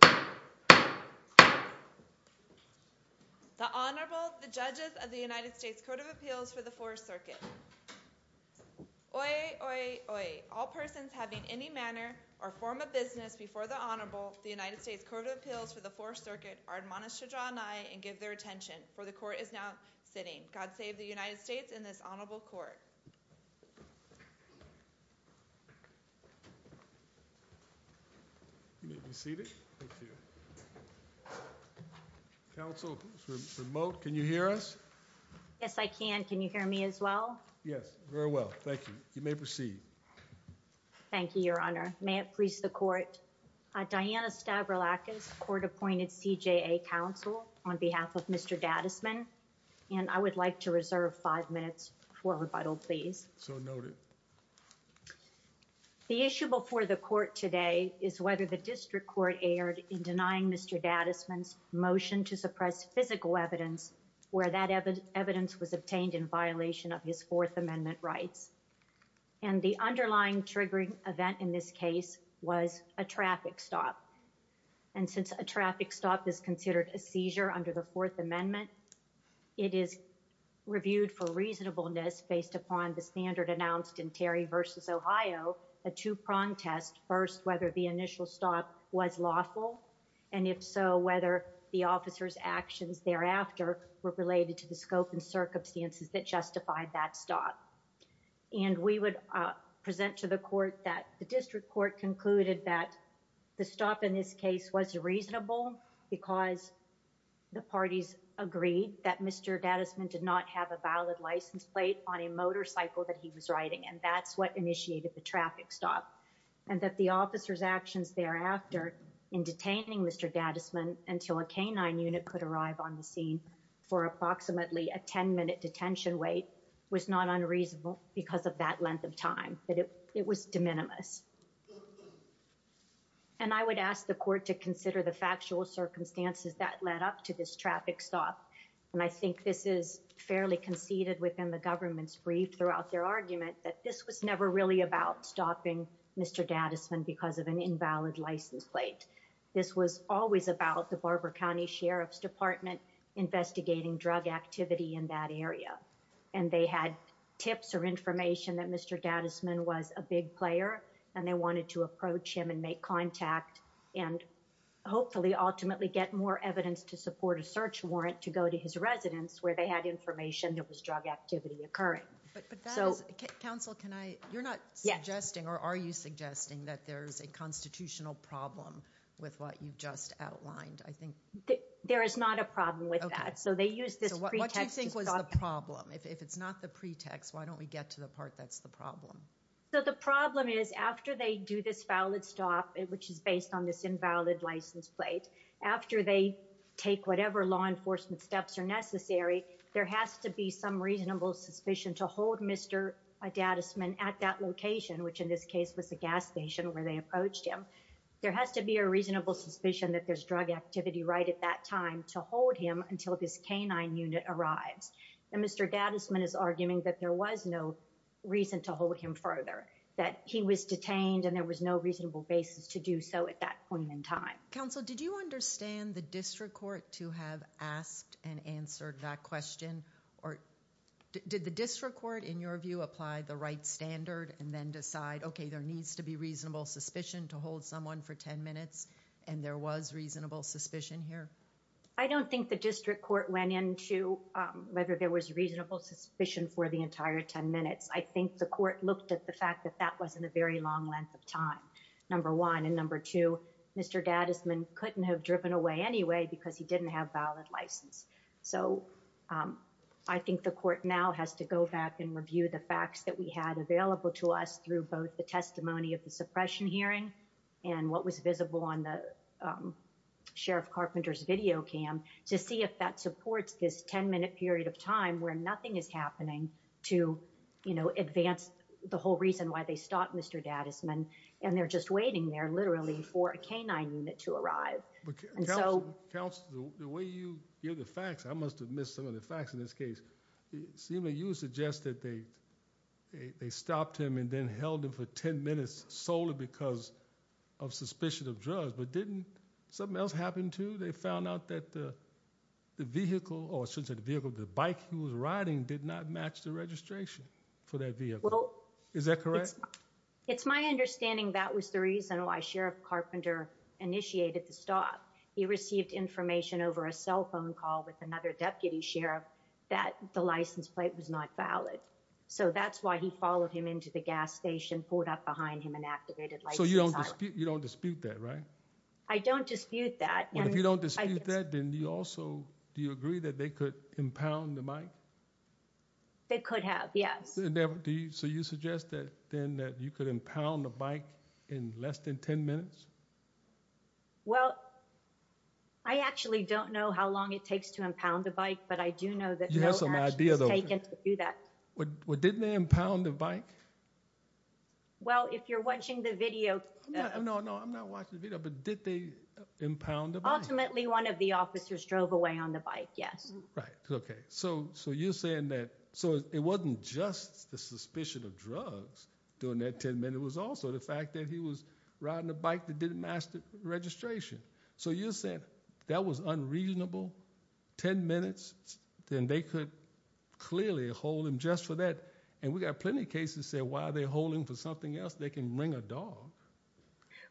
The Honorable, the Judges of the United States Court of Appeals for the Fourth Circuit. Oye, oye, oye, all persons having any manner or form of business before the Honorable, the United States Court of Appeals for the Fourth Circuit, are admonished to draw nigh and give their attention, for the Court is now sitting. God save the United States and this Honorable Court. You may be seated. Thank you. Counsel, it's remote. Can you hear us? Yes, I can. Can you hear me as well? Yes, very well. Thank you. You may proceed. Thank you, Your Honor. May it please the Court. Diana Stavrilakis, Court-Appointed CJA Counsel, on behalf of Mr. Dadisman, and I would like to reserve five minutes for rebuttal, please. So noted. The issue before the Court today is whether the District Court erred in denying Mr. Dadisman's motion to suppress physical evidence where that evidence was obtained in violation of his Fourth Amendment rights. And the underlying triggering event in this case was a traffic stop. And since a traffic stop is considered a seizure under the Fourth Amendment, it is reviewed for reasonableness based upon the standard announced in Terry v. Ohio, a two-prong test, first, whether the initial stop was lawful, and if so, whether the officer's actions thereafter were related to the scope and circumstances that justified that stop. And we would present to the Court that the District Court concluded that the stop in this case was reasonable because the parties agreed that Mr. Dadisman did not have a valid license plate on a motorcycle that he was riding, and that's what initiated the traffic stop, and that the officer's actions thereafter in detaining Mr. Dadisman until a K-9 unit could arrive on the scene were reasonable because of that length of time, that it was de minimis. And I would ask the Court to consider the factual circumstances that led up to this traffic stop, and I think this is fairly conceded within the government's brief throughout their argument that this was never really about stopping Mr. Dadisman because of an invalid license plate. This was always about the Barber County Sheriff's Department investigating drug activity in that area, and they had tips or information that Mr. Dadisman was a big player, and they wanted to approach him and make contact and hopefully ultimately get more evidence to support a search warrant to go to his residence where they had information there was drug activity occurring. But that is – Counsel, can I – you're not suggesting or are you suggesting that there's a constitutional problem with what you've just outlined, I think? There is not a problem with that. So they used this pretext to stop him. So what do you think was the problem? If it's not the pretext, why don't we get to the part that's the problem? So the problem is after they do this valid stop, which is based on this invalid license plate, after they take whatever law enforcement steps are necessary, there has to be some reasonable suspicion to hold Mr. Dadisman at that location, which in this case was the gas station where they approached him. There has to be a reasonable suspicion that there's drug activity right at that time to hold him until this canine unit arrives. And Mr. Dadisman is arguing that there was no reason to hold him further, that he was detained and there was no reasonable basis to do so at that point in time. Counsel, did you understand the district court to have asked and answered that question? Did the district court, in your view, apply the right standard and then decide, okay, there needs to be reasonable suspicion to hold someone for 10 minutes and there was reasonable suspicion here? I don't think the district court went into whether there was reasonable suspicion for the entire 10 minutes. I think the court looked at the fact that that wasn't a very long length of time, number one. And number two, Mr. Dadisman couldn't have driven away anyway because he didn't have valid license. So I think the court now has to go back and review the facts that we had available to us through both the testimony of the suppression hearing and what was visible on the Sheriff Carpenter's video cam to see if that supports this 10 minute period of time where nothing is happening to, you know, advance the whole reason why they stopped Mr. Dadisman and they're just waiting there literally for a canine unit to arrive. Counsel, the way you give the facts, I must've missed some of the facts in this case. It seemed that you suggested they stopped him and then held him for 10 minutes solely because of suspicion of drugs, but didn't something else happen to, they found out that the vehicle or since the vehicle, the bike he was riding did not match the registration for that vehicle. Is that correct? It's my understanding. That was the reason why Sheriff Carpenter initiated the stop. He received information over a cell phone call with another deputy Sheriff that the license plate was not valid. So that's why he followed him into the gas station, pulled up behind him and activated. So you don't dispute, you don't dispute that, right? I don't dispute that. And if you don't dispute that, then you also, do you agree that they could impound the bike? They could have. Yes. So you suggest that then that you could impound the bike in less than 10 minutes? Well, I actually don't know how long it takes to impound the bike, but I do know that you have some ideas. So, so I don't know how long it takes to impound the bike. I don't know how long it would take to do that. What didn't they impound the bike? Well, if you're watching the video, no, no, I'm not watching the video, but did they impound the bike? Ultimately one of the officers drove away on the bike. Yes. Right. Okay. So, so you're saying that, so it wasn't just the suspicion of drugs during that 10 minute was also the fact that he was riding a bike that didn't master registration. So you said that was unreasonable, 10 minutes, then they could clearly hold him just for that. And we've got plenty of cases say, why are they holding for something else? They can bring a dog.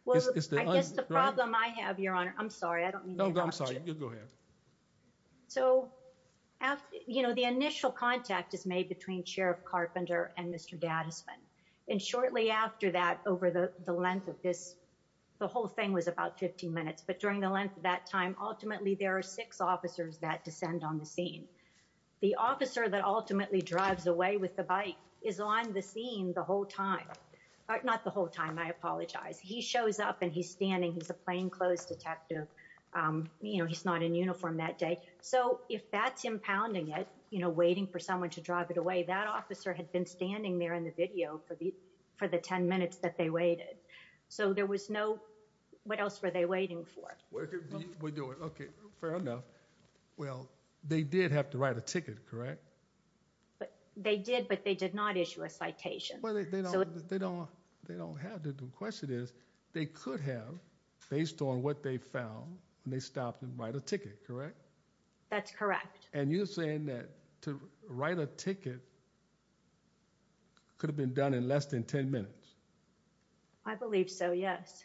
Well, I guess the problem I have, your honor, I'm sorry. I don't mean to interrupt you. You go ahead. So after, you know, the initial contact is made between Sheriff Carpenter and Mr. Gattisman. And shortly after that, over the length of this, the whole thing was about 15 minutes, but during the length of that time, ultimately there are six officers that descend on the scene. The officer that ultimately drives away with the bike is on the scene the whole time, not the whole time. I apologize. He shows up and he's standing. He's a plainclothes detective. You know, he's not in uniform that day. So if that's impounding it, you know, waiting for someone to drive it away, that officer had been standing there in the video for the, for the 10 minutes that they waited. So there was no, what else were they waiting for? We're doing okay. Fair enough. Well, they did have to write a ticket, correct? But they did, but they did not issue a citation. They don't, they don't have the question is they could have based on what they found and they stopped and write a ticket. Correct. That's correct. And you're saying that to write a ticket could have been done in less than 10 minutes. I believe so. Yes.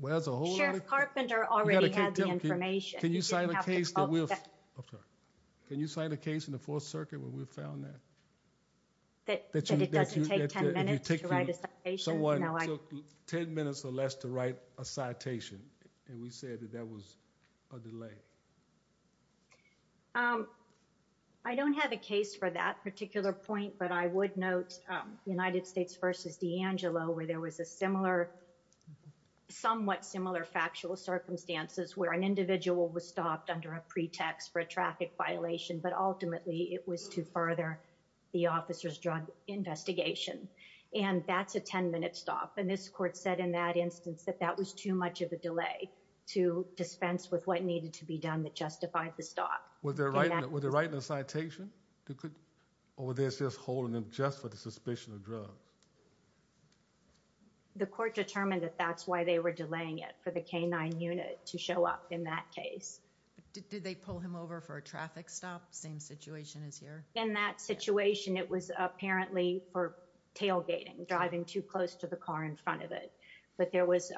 Well, as a whole carpenter already had the information. Can you sign a case that we'll, I'm sorry. Can you sign a case in the fourth circuit where we found that? That it doesn't take 10 minutes to write a citation. Someone took 10 minutes or less to write a citation. And we said that that was a delay. I don't have a case for that particular point, but I would note the United States versus D'Angelo where there was a similar, somewhat similar factual circumstances where an individual was stopped under a pretext for a traffic violation, but ultimately it was to further the officer's drug investigation. And that's a 10 minute stop. And this court said in that instance, that that was too much of a delay to dispense with what needed to be done. And that's why they were delaying it for the K-9 unit to show up in that case. Did they pull him over for a traffic stop? Same situation as here. In that situation, it was apparently for tailgating driving too close to the car in front of it. But there was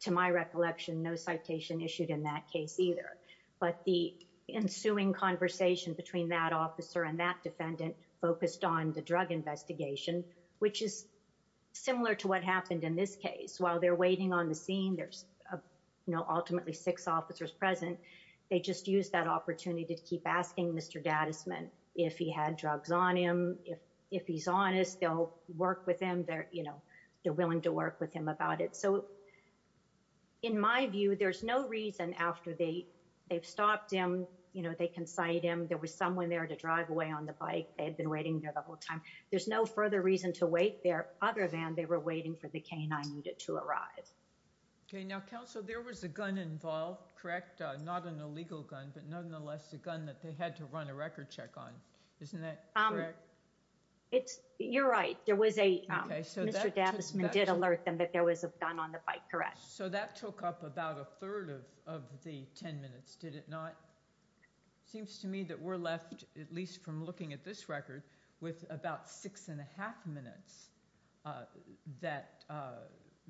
to my recollection, no citation issued in that case either. But the ensuing conversation between that officer and that defendant focused on the drug investigation, which is similar to what happened in this case, while they're waiting on the scene, there's no ultimately six officers present. They just use that opportunity to keep asking Mr. Datisman if he had drugs on him, if, if he's honest, they'll work with them there, you know, they're willing to work with him about it. So in my view, there's no reason after they they've stopped him, you know, they can cite him. There was someone there to drive away on the bike. They had been waiting there the whole time. There's no further reason to wait there other than they were waiting for the K-9 unit to arrive. Okay. Now counsel, there was a gun involved, correct? Not an illegal gun, but nonetheless, the gun that they had to run a record check on. Isn't that correct? It's you're right. There was a, Mr. Datisman did alert them that there was a gun on the bike. Correct. So that took up about a third of, of the 10 minutes. Did it not seems to me that we're left at least from looking at this record with about six and a half minutes that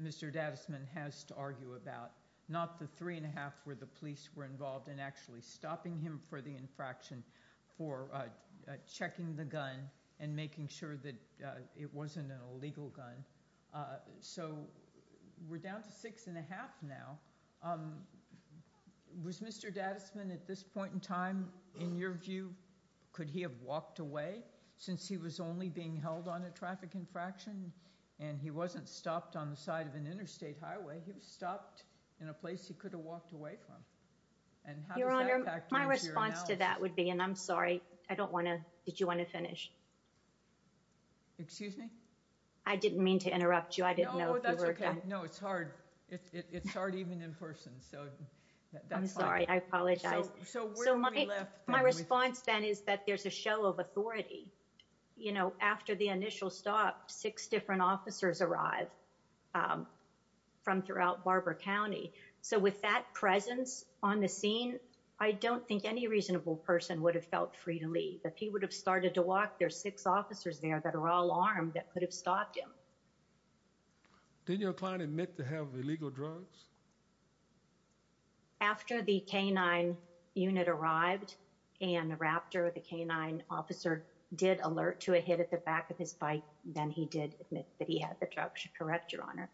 Mr. Datisman has to argue about not the three and a half where the police were involved in actually stopping him for the infraction for checking the gun and making sure that it wasn't an illegal gun. So we're down to six and a half now was Mr. Datisman at this point in time, in your view, could he have walked away since he was only being held on a traffic infraction and he wasn't stopped on the side of an interstate highway. He was stopped in a place. He could have walked away from. And my response to that would be, and I'm sorry, I don't want to, did you want to finish? Excuse me? I didn't mean to interrupt you. I didn't know. That's okay. No, it's hard. It's hard even in person. I'm sorry. I apologize. So my, my response then is that there's a show of authority, you know, after the initial stop, six different officers arrive from throughout Barbara County. So with that presence on the scene, I don't think any reasonable person would have felt free to leave that he would have started to walk. There's six officers there that are all armed. That could have stopped him. Did your client admit to have illegal drugs? After the canine unit arrived and the Raptor, the canine officer did alert to a hit at the back of his bike. Then he did admit that he had the drug should correct your honor.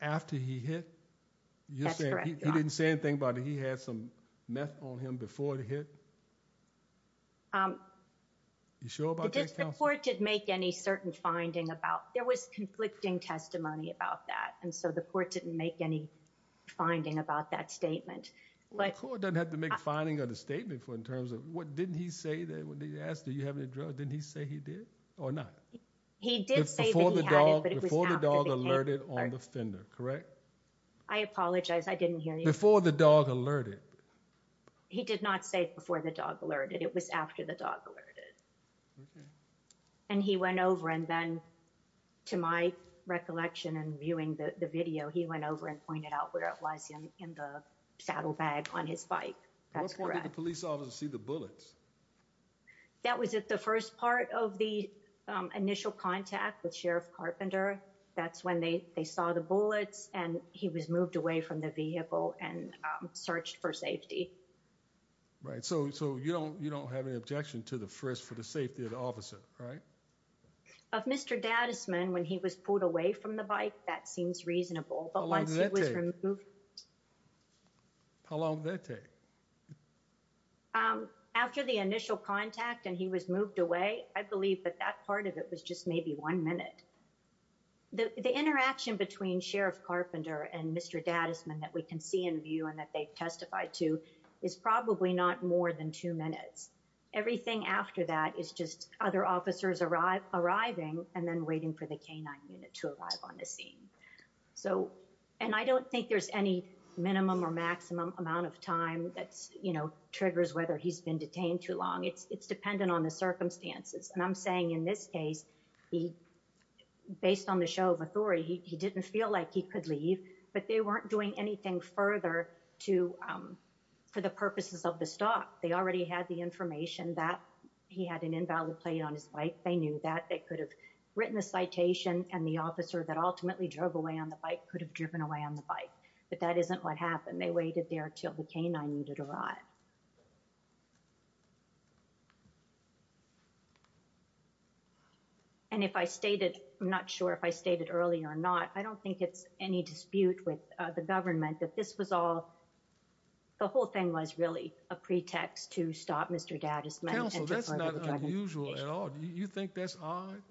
After he hit, he didn't say anything about it. He had some meth on him before the hit. So I don't think he admitted to that. The report didn't make any. You sure about that? The court did make any certain finding about there was conflicting testimony about that. And so the court didn't make any. Finding about that statement. But. It doesn't have to make a finding on the statement for, in terms of what didn't he say? That was the asked, do you have any drugs? Didn't he say he did or not? He did. The dog. The dog alerted on the fender. Correct. I apologize. I didn't hear you before the dog alerted. He did not say before the dog alerted. It was after the dog alerted. And he went over and then. To my recollection and viewing the video, he went over and pointed out where it was in the saddlebag on his bike. That's correct. Police officers see the bullets. That was at the first part of the initial contact with Sheriff Carpenter. That's when they, they saw the bullets and he was moved away from the vehicle and searched for safety. Right. So, so you don't, you don't have any objection to the first for the safety of the officer. Right. Of Mr. Dad is man. When he was pulled away from the bike, that seems reasonable. But once he was removed. How long did that take? After the initial contact and he was moved away, I believe that that part of it was just maybe one minute. The interaction between Sheriff Carpenter and Mr. Dad is men that we can see in view and that they've testified to is probably not more than two minutes. Everything after that is just other officers arrive, arriving and then waiting for the canine unit to arrive on the scene. So, and I don't think there's any minimum or maximum amount of time that's, you know, triggers whether he's been detained too long. It's dependent on the circumstances. And I'm saying in this case, he based on the show of authority, he didn't feel like he could leave, but they weren't doing anything further to for the purposes of the stock. They already had the information that he had an invalid plate on his bike. They knew that they could have written a citation and the officer that ultimately drove away on the bike could have driven away on the bike, but that isn't what happened. They waited there till the canine needed to arrive. And if I stated, I'm not sure if I stated earlier or not, I don't think it's any dispute with the government that this was all the whole thing was really a pretext to stop. Mr. That's not unusual at all. Do you think that's odd?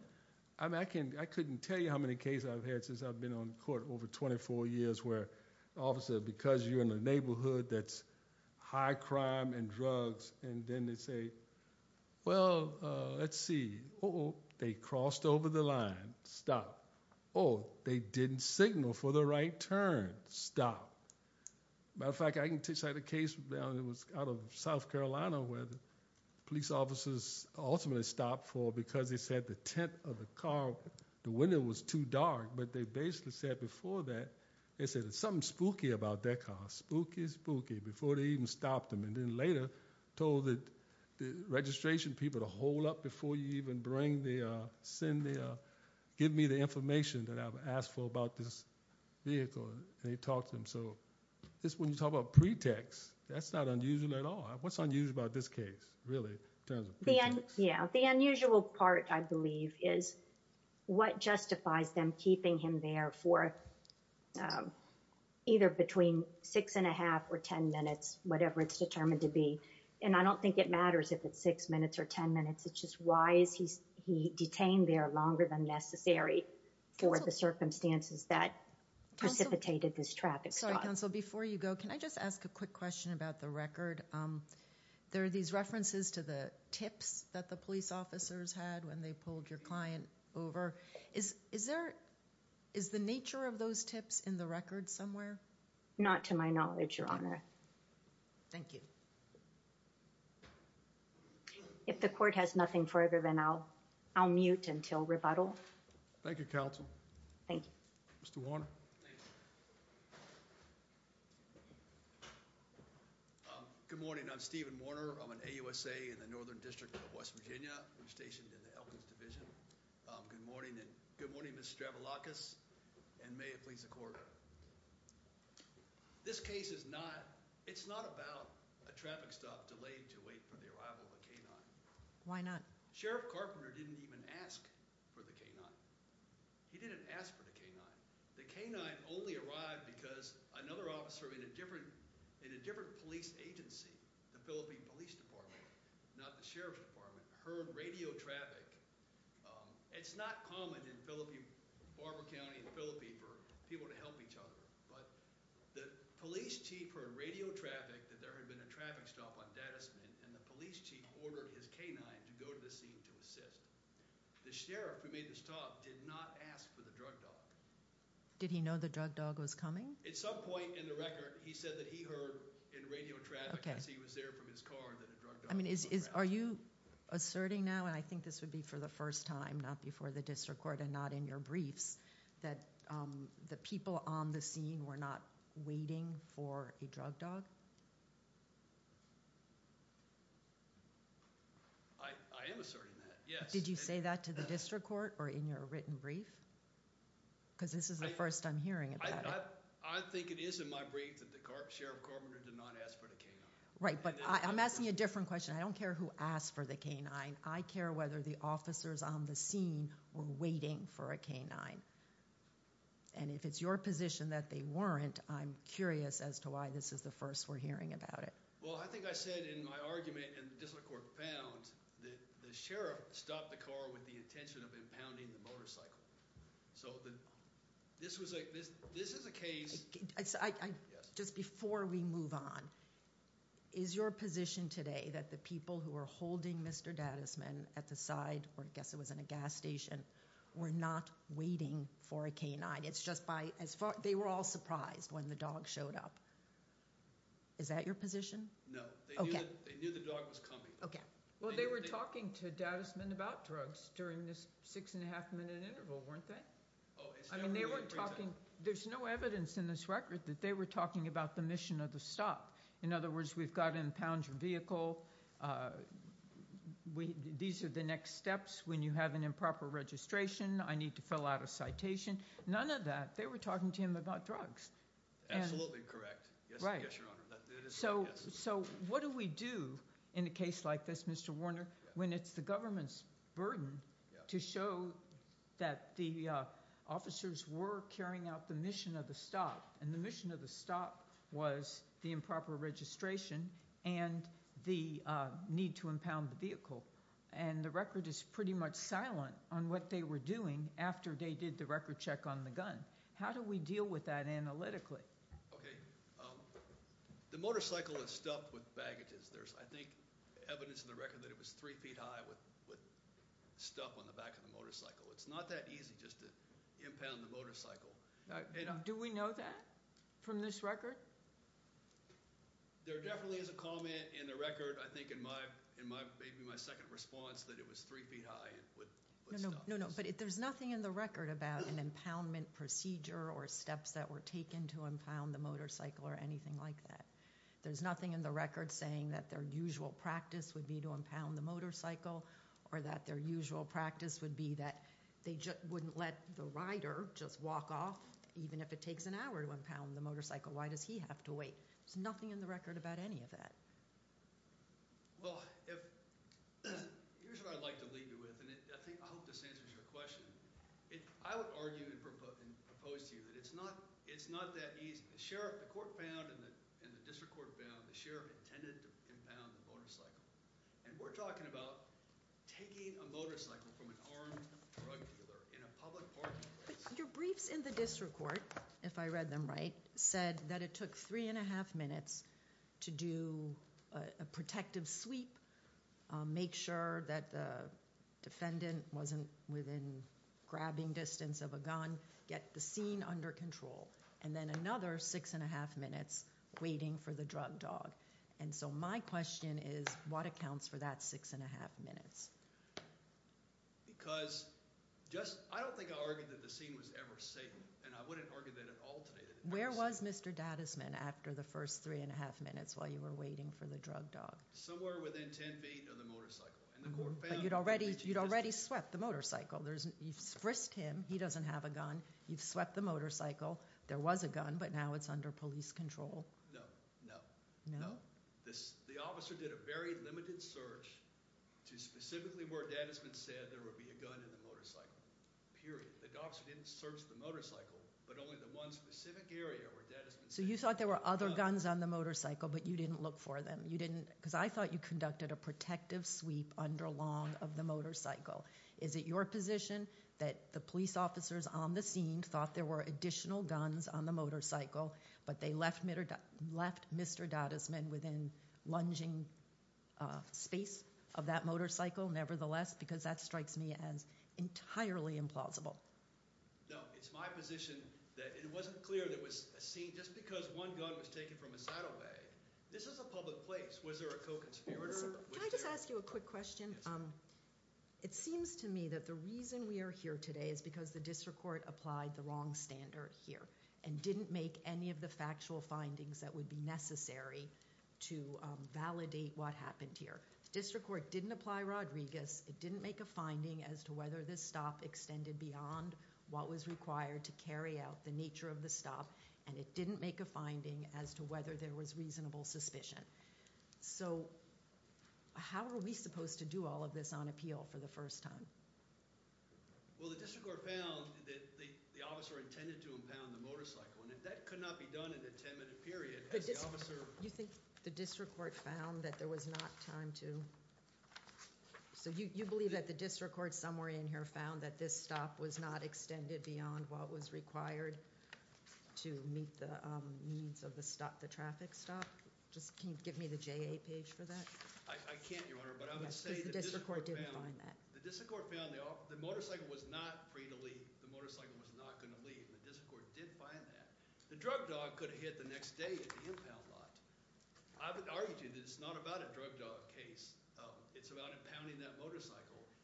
I mean, I can, I couldn't tell you how many cases I've had since I've been on court over 24 years where officer, because you're in a neighborhood that's high crime and drugs. And then they say, well, let's see. Oh, they crossed over the line. Stop. Oh, they didn't signal for the right turn. Stop. Matter of fact, I can take a case down. It was out of South Carolina where the police officers ultimately stopped for because they said the tent of the car, the window was too dark, but they basically said before that, they said something spooky about that car, spooky, spooky, before they even stopped them. And then later told that the registration people to hold up before you even bring the, uh, send the, uh, give me the information that I've asked for about this vehicle. And he talked to him. So this, when you talk about pretext, that's not unusual at all. What's unusual about this case? Really? Yeah. The unusual part I believe is what justifies them keeping him there for either between six and a half or 10 minutes, whatever it's determined to be. And I don't think it matters if it's six minutes or 10 minutes, it's just why is he, he detained there longer than necessary for the circumstances that precipitated this traffic stop. Before you go, can I just ask a quick question about the record? Um, there are these references to the tips that the police officers had when they pulled your client over. Is, is there, is the nature of those tips in the record somewhere? Not to my knowledge, Your Honor. Thank you. If the court has nothing for everyone, I'll, I'll mute until rebuttal. Thank you, counsel. Thank you, Mr. Warner. Um, good morning. I'm Steven Warner. I'm an AUSA in the Northern district of West Virginia. We're stationed in the Elkins division. Um, good morning. Good morning, Mr. Stravoulakis. And may it please the court. This case is not, it's not about a traffic stop delayed to wait for the arrival of a K-9. Why not? Sheriff Carpenter didn't even ask for the K-9. He didn't ask for the K-9. The K-9 only arrived because another officer in a different, in a different police agency, the Philippine police department, not the sheriff's department, heard radio traffic. Um, it's not common in Philippi, Barber County in Philippi, for people to help each other. But the police chief heard radio traffic that there had been a traffic stop on Datasmith, and the police chief ordered his K-9 to go to the scene to assist. The sheriff who made the stop did not ask for the drug dog. Did he know the drug dog was coming? At some point in the record, he said that he heard in radio traffic as he was there from his car that a drug dog was coming. Are you asserting now, and I think this would be for the first time, for the district court and not in your briefs, that the people on the scene were not waiting for a drug dog? I am asserting that, yes. Did you say that to the district court or in your written brief? Because this is the first I'm hearing about it. I think it is in my brief that Sheriff Carpenter did not ask for the K-9. Right, but I'm asking a different question. I don't care who asked for the K-9. I care whether the officers on the scene were waiting for a K-9. And if it's your position that they weren't, I'm curious as to why this is the first we're hearing about it. Well, I think I said in my argument, and the district court found, that the sheriff stopped the car with the intention of impounding the motorcycle. So this is a case... Just before we move on, is your position today that the people who were holding Mr. Dadisman at the side, or I guess it was in a gas station, were not waiting for a K-9? They were all surprised when the dog showed up. Is that your position? No. They knew the dog was coming. Well, they were talking to Dadisman about drugs during this six and a half minute interval, weren't they? There's no evidence in this record that they were talking about the mission of the stop. In other words, we've got an impounded vehicle. These are the next steps when you have an improper registration. I need to fill out a citation. None of that. They were talking to him about drugs. Absolutely correct. Yes, Your Honor. So what do we do in a case like this, Mr. Warner, when it's the government's burden to show that the officers were carrying out the mission of the stop? And the mission of the stop was the improper registration and the need to impound the vehicle. And the record is pretty much silent on what they were doing after they did the record check on the gun. How do we deal with that analytically? Okay. The motorcycle is stuffed with baggages. There's, I think, evidence in the record that it was three feet high with stuff on the back of the motorcycle. It's not that easy just to impound the motorcycle. Do we know that from this record? There definitely is a comment in the record, I think in maybe my second response, that it was three feet high with stuff. No, no, but there's nothing in the record about an impoundment procedure or steps that were taken to impound the motorcycle or anything like that. There's nothing in the record saying that their usual practice would be to impound the motorcycle or that their usual practice would be that they wouldn't let the rider off even if it takes an hour to impound the motorcycle. Why does he have to wait? There's nothing in the record about any of that. Well, here's what I'd like to leave you with, and I hope this answers your question. I would argue and propose to you that it's not that easy. The sheriff, the court found, and the district court found, the sheriff intended to impound the motorcycle. And we're talking about taking a motorcycle from an armed drug dealer in a public parking place. The district court, if I read them right, said that it took 3 1⁄2 minutes to do a protective sweep, make sure that the defendant wasn't within grabbing distance of a gun, get the scene under control, and then another 6 1⁄2 minutes waiting for the drug dog. And so my question is, what accounts for that 6 1⁄2 minutes? Because I don't think I argued that the scene was ever safe. And I wouldn't argue that at all today. Where was Mr. Dadisman after the first 3 1⁄2 minutes while you were waiting for the drug dog? Somewhere within 10 feet of the motorcycle. But you'd already swept the motorcycle. You've frisked him. He doesn't have a gun. You've swept the motorcycle. There was a gun, but now it's under police control. No, no. The officer did a very limited search to specifically where Dadisman said there would be a gun in the motorcycle. Period. But only the one specific area where Dadisman said there would be a gun. So you thought there were other guns on the motorcycle, but you didn't look for them. Because I thought you conducted a protective sweep under long of the motorcycle. Is it your position that the police officers on the scene thought there were additional guns on the motorcycle, but they left Mr. Dadisman within lunging space of that motorcycle nevertheless? Because that strikes me as entirely implausible. No, it's my position that it wasn't clear there was a scene just because one gun was taken from a saddlebag. This is a public place. Was there a co-conspirator? Can I just ask you a quick question? It seems to me that the reason we are here today is because the district court applied the wrong standard here and didn't make any of the factual findings that would be necessary to validate what happened here. The district court didn't apply Rodriguez. It didn't make a finding as to whether this stop extended beyond what was required to carry out the nature of the stop, and it didn't make a finding as to whether there was reasonable suspicion. So how are we supposed to do all of this on appeal for the first time? Well, the district court found that the officer intended to impound the motorcycle, and if that could not be done in a 10-minute period, had the officer... You think the district court found that there was not time to... So you believe that the district court somewhere in here found that this stop was not extended beyond what was required to meet the needs of the traffic stop? Can you give me the JA page for that? I can't, Your Honor, but I would say... The district court didn't find that. The district court found the motorcycle was not free to leave. The motorcycle was not going to leave. The district court did find that. The drug dog could have hit the next day at the impound lot. I would argue to you that it's not about a drug dog case. It's about impounding that motorcycle.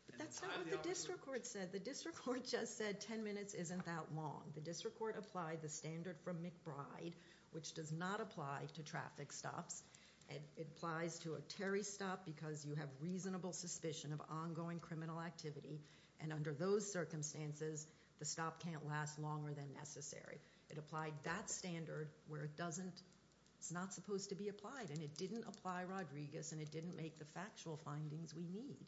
But that's not what the district court said. The district court just said 10 minutes isn't that long. The district court applied the standard from McBride, which does not apply to traffic stops. It applies to a Terry stop because you have reasonable suspicion of ongoing criminal activity, and under those circumstances, the stop can't last longer than necessary. It applied that standard where it doesn't... It was supposed to be applied, and it didn't apply, Rodriguez, and it didn't make the factual findings we need.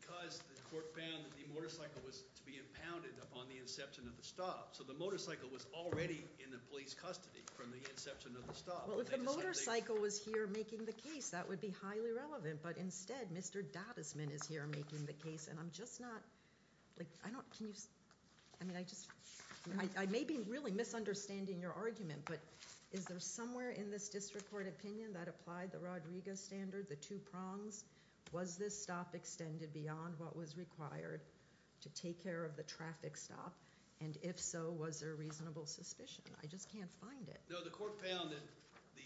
Because the court found that the motorcycle was to be impounded upon the inception of the stop, so the motorcycle was already in the police custody from the inception of the stop. Well, if the motorcycle was here making the case, that would be highly relevant, but instead, Mr. Dadisman is here making the case, and I'm just not... I don't... Can you... I mean, I just... I may be really misunderstanding your argument, but is there somewhere in this district court opinion that applied the Rodriguez standard, the two prongs? Was this stop extended beyond what was required to take care of the traffic stop? And if so, was there reasonable suspicion? I just can't find it. No, the court found that the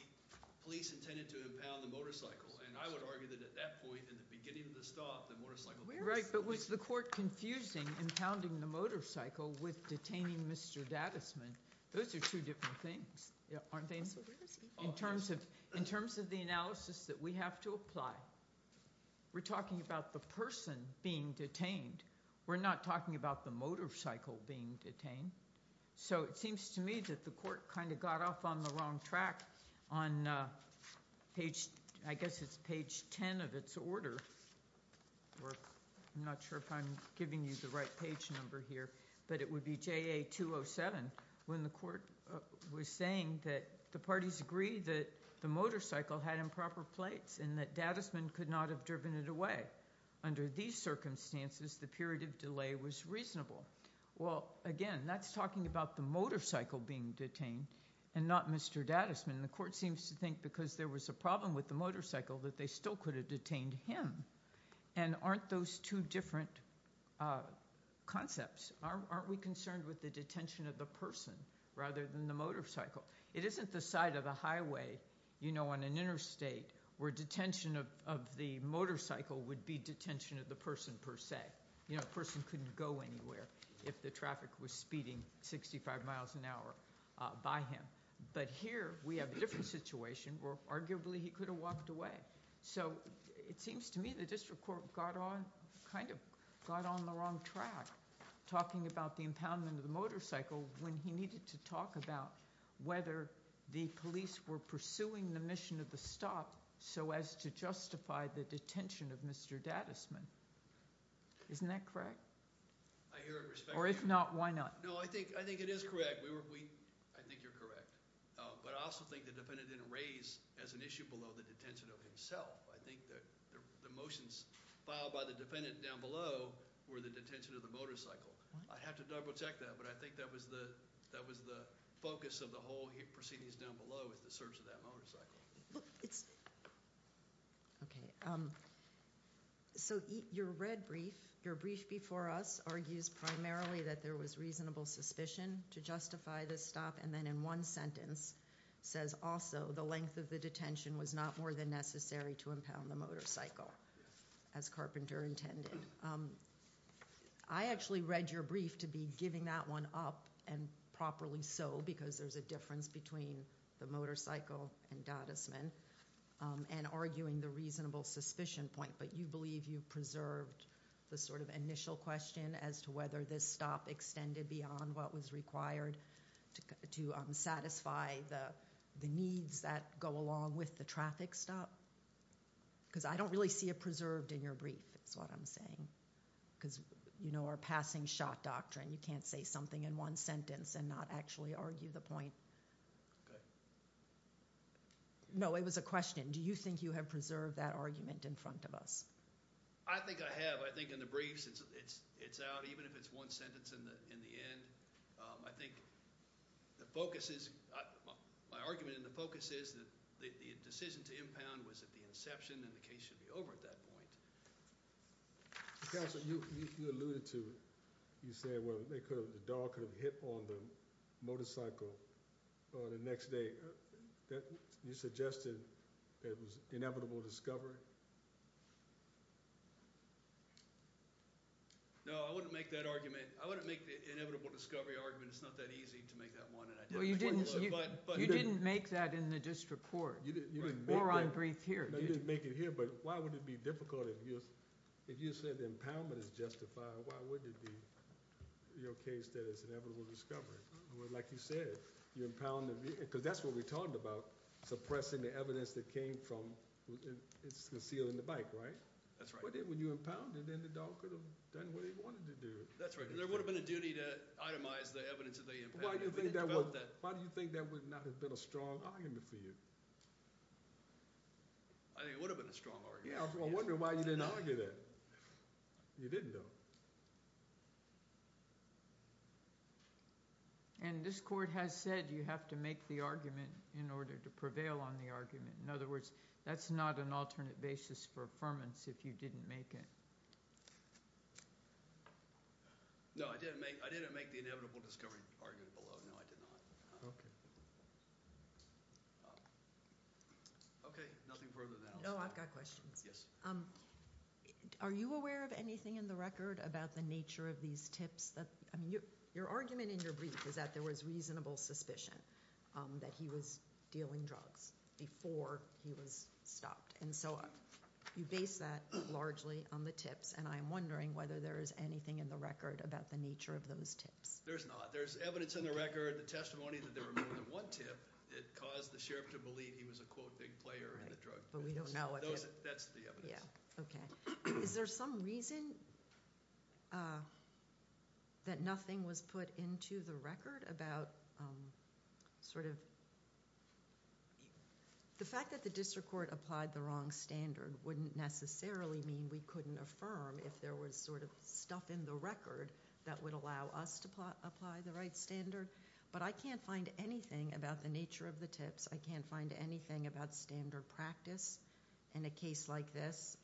police intended to impound the motorcycle, and I would argue that at that point, in the beginning of the stop, the motorcycle... Right, but was the court confusing impounding the motorcycle to Mr. Dadisman? Those are two different things, aren't they? In terms of the analysis that we have to apply, we're talking about the person being detained. We're not talking about the motorcycle being detained. So it seems to me that the court kind of got off on the wrong track on page... I guess it's page 10 of its order. I'm not sure if I'm giving you the right page number here, but it would be JA 207, when the court was saying that the parties agreed that the motorcycle had improper plates and that Dadisman could not have driven it away. Under these circumstances, the period of delay was reasonable. Well, again, that's talking about the motorcycle being detained and not Mr. Dadisman. And the court seems to think because there was a problem with the motorcycle that they still could have detained him. And aren't those two different concepts? Aren't we concerned with the detention of the person rather than the motorcycle? It isn't the side of the highway, you know, on an interstate where detention of the motorcycle would be detention of the person per se. You know, a person couldn't go anywhere if the traffic was speeding 65 miles an hour by him. But here we have a different situation where arguably he could have walked away. So it seems to me the district court kind of got on the wrong track about the impoundment of the motorcycle when he needed to talk about whether the police were pursuing the mission of the stop so as to justify the detention of Mr. Dadisman. Isn't that correct? I hear it respectfully. Or if not, why not? No, I think it is correct. I think you're correct. But I also think the defendant didn't raise as an issue below the detention of himself. I think the motions filed by the defendant down below were the detention of the motorcycle. I'd have to double check that, but I think that was the focus of the whole proceedings down below is the search of that motorcycle. Okay. So your red brief, your brief before us, argues primarily that there was reasonable suspicion to justify the stop, and then in one sentence says also the length of the detention was not more than necessary to impound the motorcycle, as Carpenter intended. I actually read your brief to be giving that one up, and properly so, because there's a difference between the motorcycle and Dadisman, and arguing the reasonable suspicion point, but you believe you preserved the sort of initial question as to whether this stop extended beyond what was required to satisfy the needs that go along with the traffic stop? Because I don't really see it preserved in your brief, because you know our passing shot doctrine, you can't say something in one sentence and not actually argue the point. No, it was a question. Do you think you have preserved that argument in front of us? I think I have. I think in the briefs it's out, even if it's one sentence in the end. I think the focus is, my argument in the focus is that the decision to impound was at the inception, and the case should be over at that point. Counsel, you alluded to, you said the dog could have hit on the motorcycle the next day. You suggested it was inevitable discovery? No, I wouldn't make that argument. I wouldn't make the inevitable discovery argument. It's not that easy to make that one. You didn't make that in the district court, or on brief here. No, you didn't make it here, but if you said the impoundment is justified, why wouldn't it be your case that it's inevitable discovery? Like you said, because that's what we talked about, suppressing the evidence that came from concealing the bike, right? That's right. When you impounded, then the dog could have done what he wanted to do. That's right. There would have been a duty to itemize the evidence that they impounded. Why do you think that would not have been a strong argument for you? I think it would have been a strong argument. Yeah, I wonder why you didn't argue that. You didn't though. And this court has said you have to make the argument in order to prevail on the argument. In other words, that's not an alternate basis for affirmance if you didn't make it. No, I didn't make the inevitable discovery argument below. No, I did not. Okay, nothing further than that. No, I've got questions. Are you aware of anything in the record about the nature of these tips? Your argument in your brief is that there was reasonable suspicion that he was dealing drugs before he was stopped. And so you base that largely on the tips. And I'm wondering whether there is anything in the record about the nature of those tips. There's not. It caused the sheriff to believe he was a quote big player in the drug business. But we don't know. That's the evidence. Yeah, okay. Is there some reason that nothing was put into the record about sort of, the fact that the district court applied the wrong standard wouldn't necessarily mean we couldn't affirm if there was sort of stuff in the record that would allow us to apply the right standard. But I can't find anything about the nature of the tips. I can't find anything about standard practice in a case like this,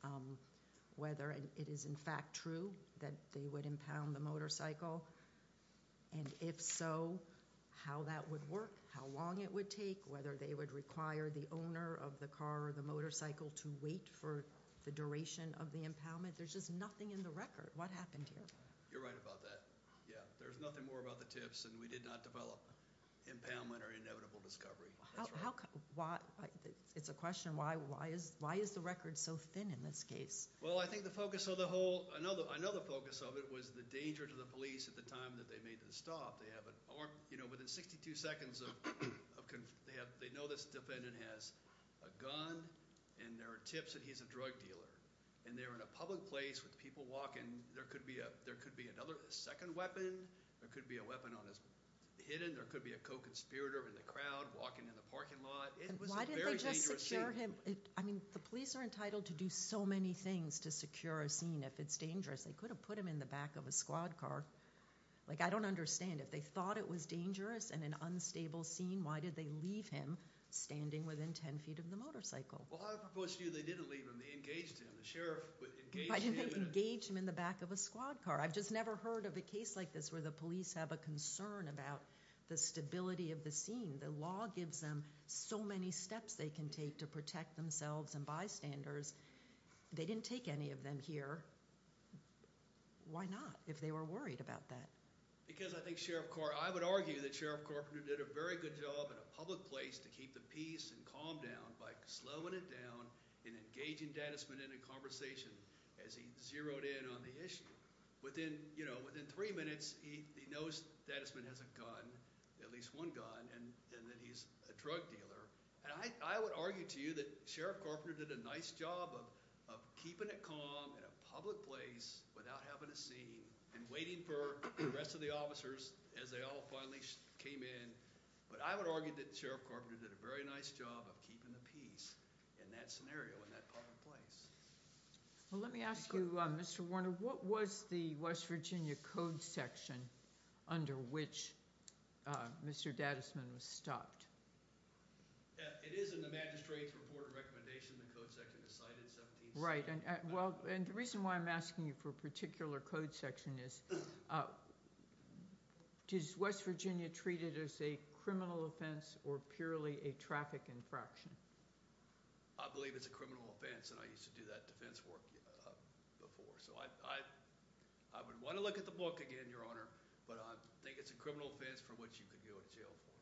whether it is in fact true that they would impound the motorcycle. And if so, how that would work, how long it would take, whether they would require the owner of the car or the motorcycle to wait for the duration of the impoundment. There's just nothing in the record. What happened here? You're right about that, yeah. There's nothing more about the tips and we did not develop impoundment or inevitable discovery. It's a question, why is the record so thin in this case? Well, I think the focus of the whole, I know the focus of it was the danger to the police at the time that they made the stop. Within 62 seconds of, they know this defendant has a gun and there are tips that he's a drug dealer. And they're in a public place with people walking. There could be another, a second weapon. There could be a weapon on his, hidden. There could be a co-conspirator in the crowd walking in the parking lot. Why didn't they just secure him? I mean, the police are entitled to do so many things to secure a scene if it's dangerous. They could have put him in the back of a squad car. Like, I don't understand. If they thought it was dangerous and an unstable scene, why did they leave him standing within 10 feet of the motorcycle? Why didn't they engage him in the back of a squad car? I've just never heard of a case like this where the police have a concern about the stability of the scene. The law gives them so many steps they can take to protect themselves and bystanders. They didn't take any of them here. Why not? If they were worried about that. Because I think Sheriff, I would argue that Sheriff Carpenter did a very good job in a public place to keep the peace and calm down when he wrote in on the issue. Within three minutes, he knows that this man has a gun, at least one gun, and that he's a drug dealer. I would argue to you that Sheriff Carpenter did a nice job of keeping it calm in a public place without having a scene and waiting for the rest of the officers as they all finally came in. But I would argue that Sheriff Carpenter did a very nice job of keeping the peace in that scenario, in that public place. Mr. Warner, what was the West Virginia code section under which Mr. Dadisman was stopped? It is in the magistrate's report and recommendation. The code section is cited 17-7. Right. And the reason why I'm asking you for a particular code section is, does West Virginia treat it as a criminal offense or purely a traffic infraction? I believe it's a criminal offense and I used to do that defense work before. So I would want to look at the book again, Your Honor, but I think it's a criminal offense for which you could go to jail for.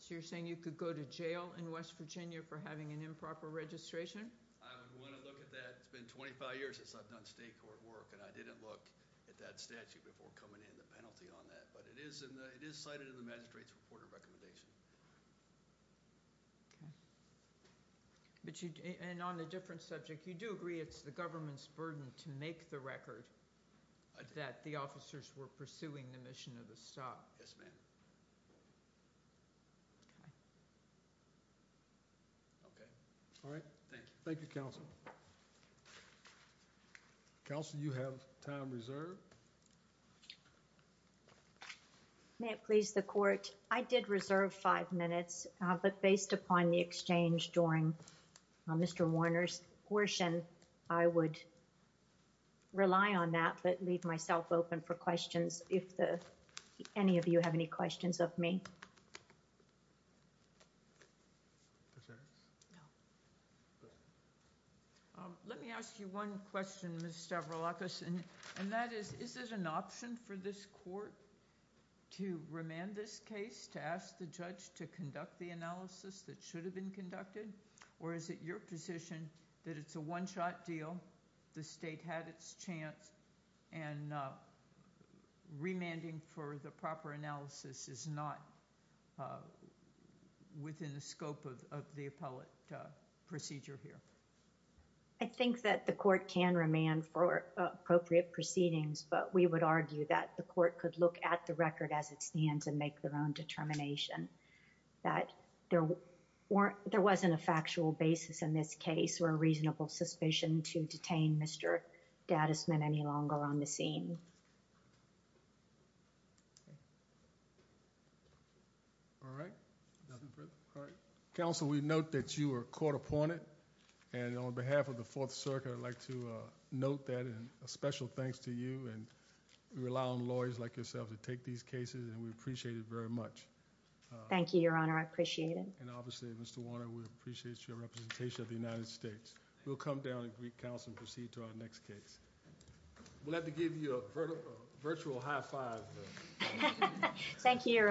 So you're saying you could go to jail in West Virginia for having an improper registration? I would want to look at that. It's been 25 years since I've done state court work and I didn't look at that statute before coming in, the penalty on that. But it is cited in the magistrate's report and recommendation. Okay. And on a different subject, you do agree it's the government's burden to make the record that the officers were pursuing the mission of the stop? Yes, ma'am. Okay. Okay. All right. Thank you. Thank you, Counsel. Counsel, you have time reserved. May it please the court. I did reserve five minutes, but based upon the exchange during Mr. Warner's portion, I would rely on that, but leave myself open for questions if any of you have any questions of me. Let me ask you one question, Ms. Stavroulakis, and that is, is there an option for this court to remand this case, to ask the judge to conduct the analysis that should have been conducted, or is it your position that it's a one-shot deal, the state had its chance, and remanding for the proper analysis is not within the scope of the appellate procedure here? I think that the court can remand for appropriate proceedings, but we would argue that the court could look at the record as it stands and make their own determination, that there wasn't a factual basis in this case or a reasonable suspicion to detain Mr. Dadisman any longer on the scene. All right. Nothing further? All right. Counsel, we note that you were caught upon it, and on behalf of the Fourth Circuit, I'd like to note that and a special thanks to you, and we rely on lawyers like yourself to take these cases, and we appreciate it very much. Thank you, Your Honor, I appreciate it. And obviously, Mr. Warner, we appreciate your representation of the United States. We'll come down to Greek Council and proceed to our next case. We'll have to give you a virtual high-five. Thank you, Your Honor.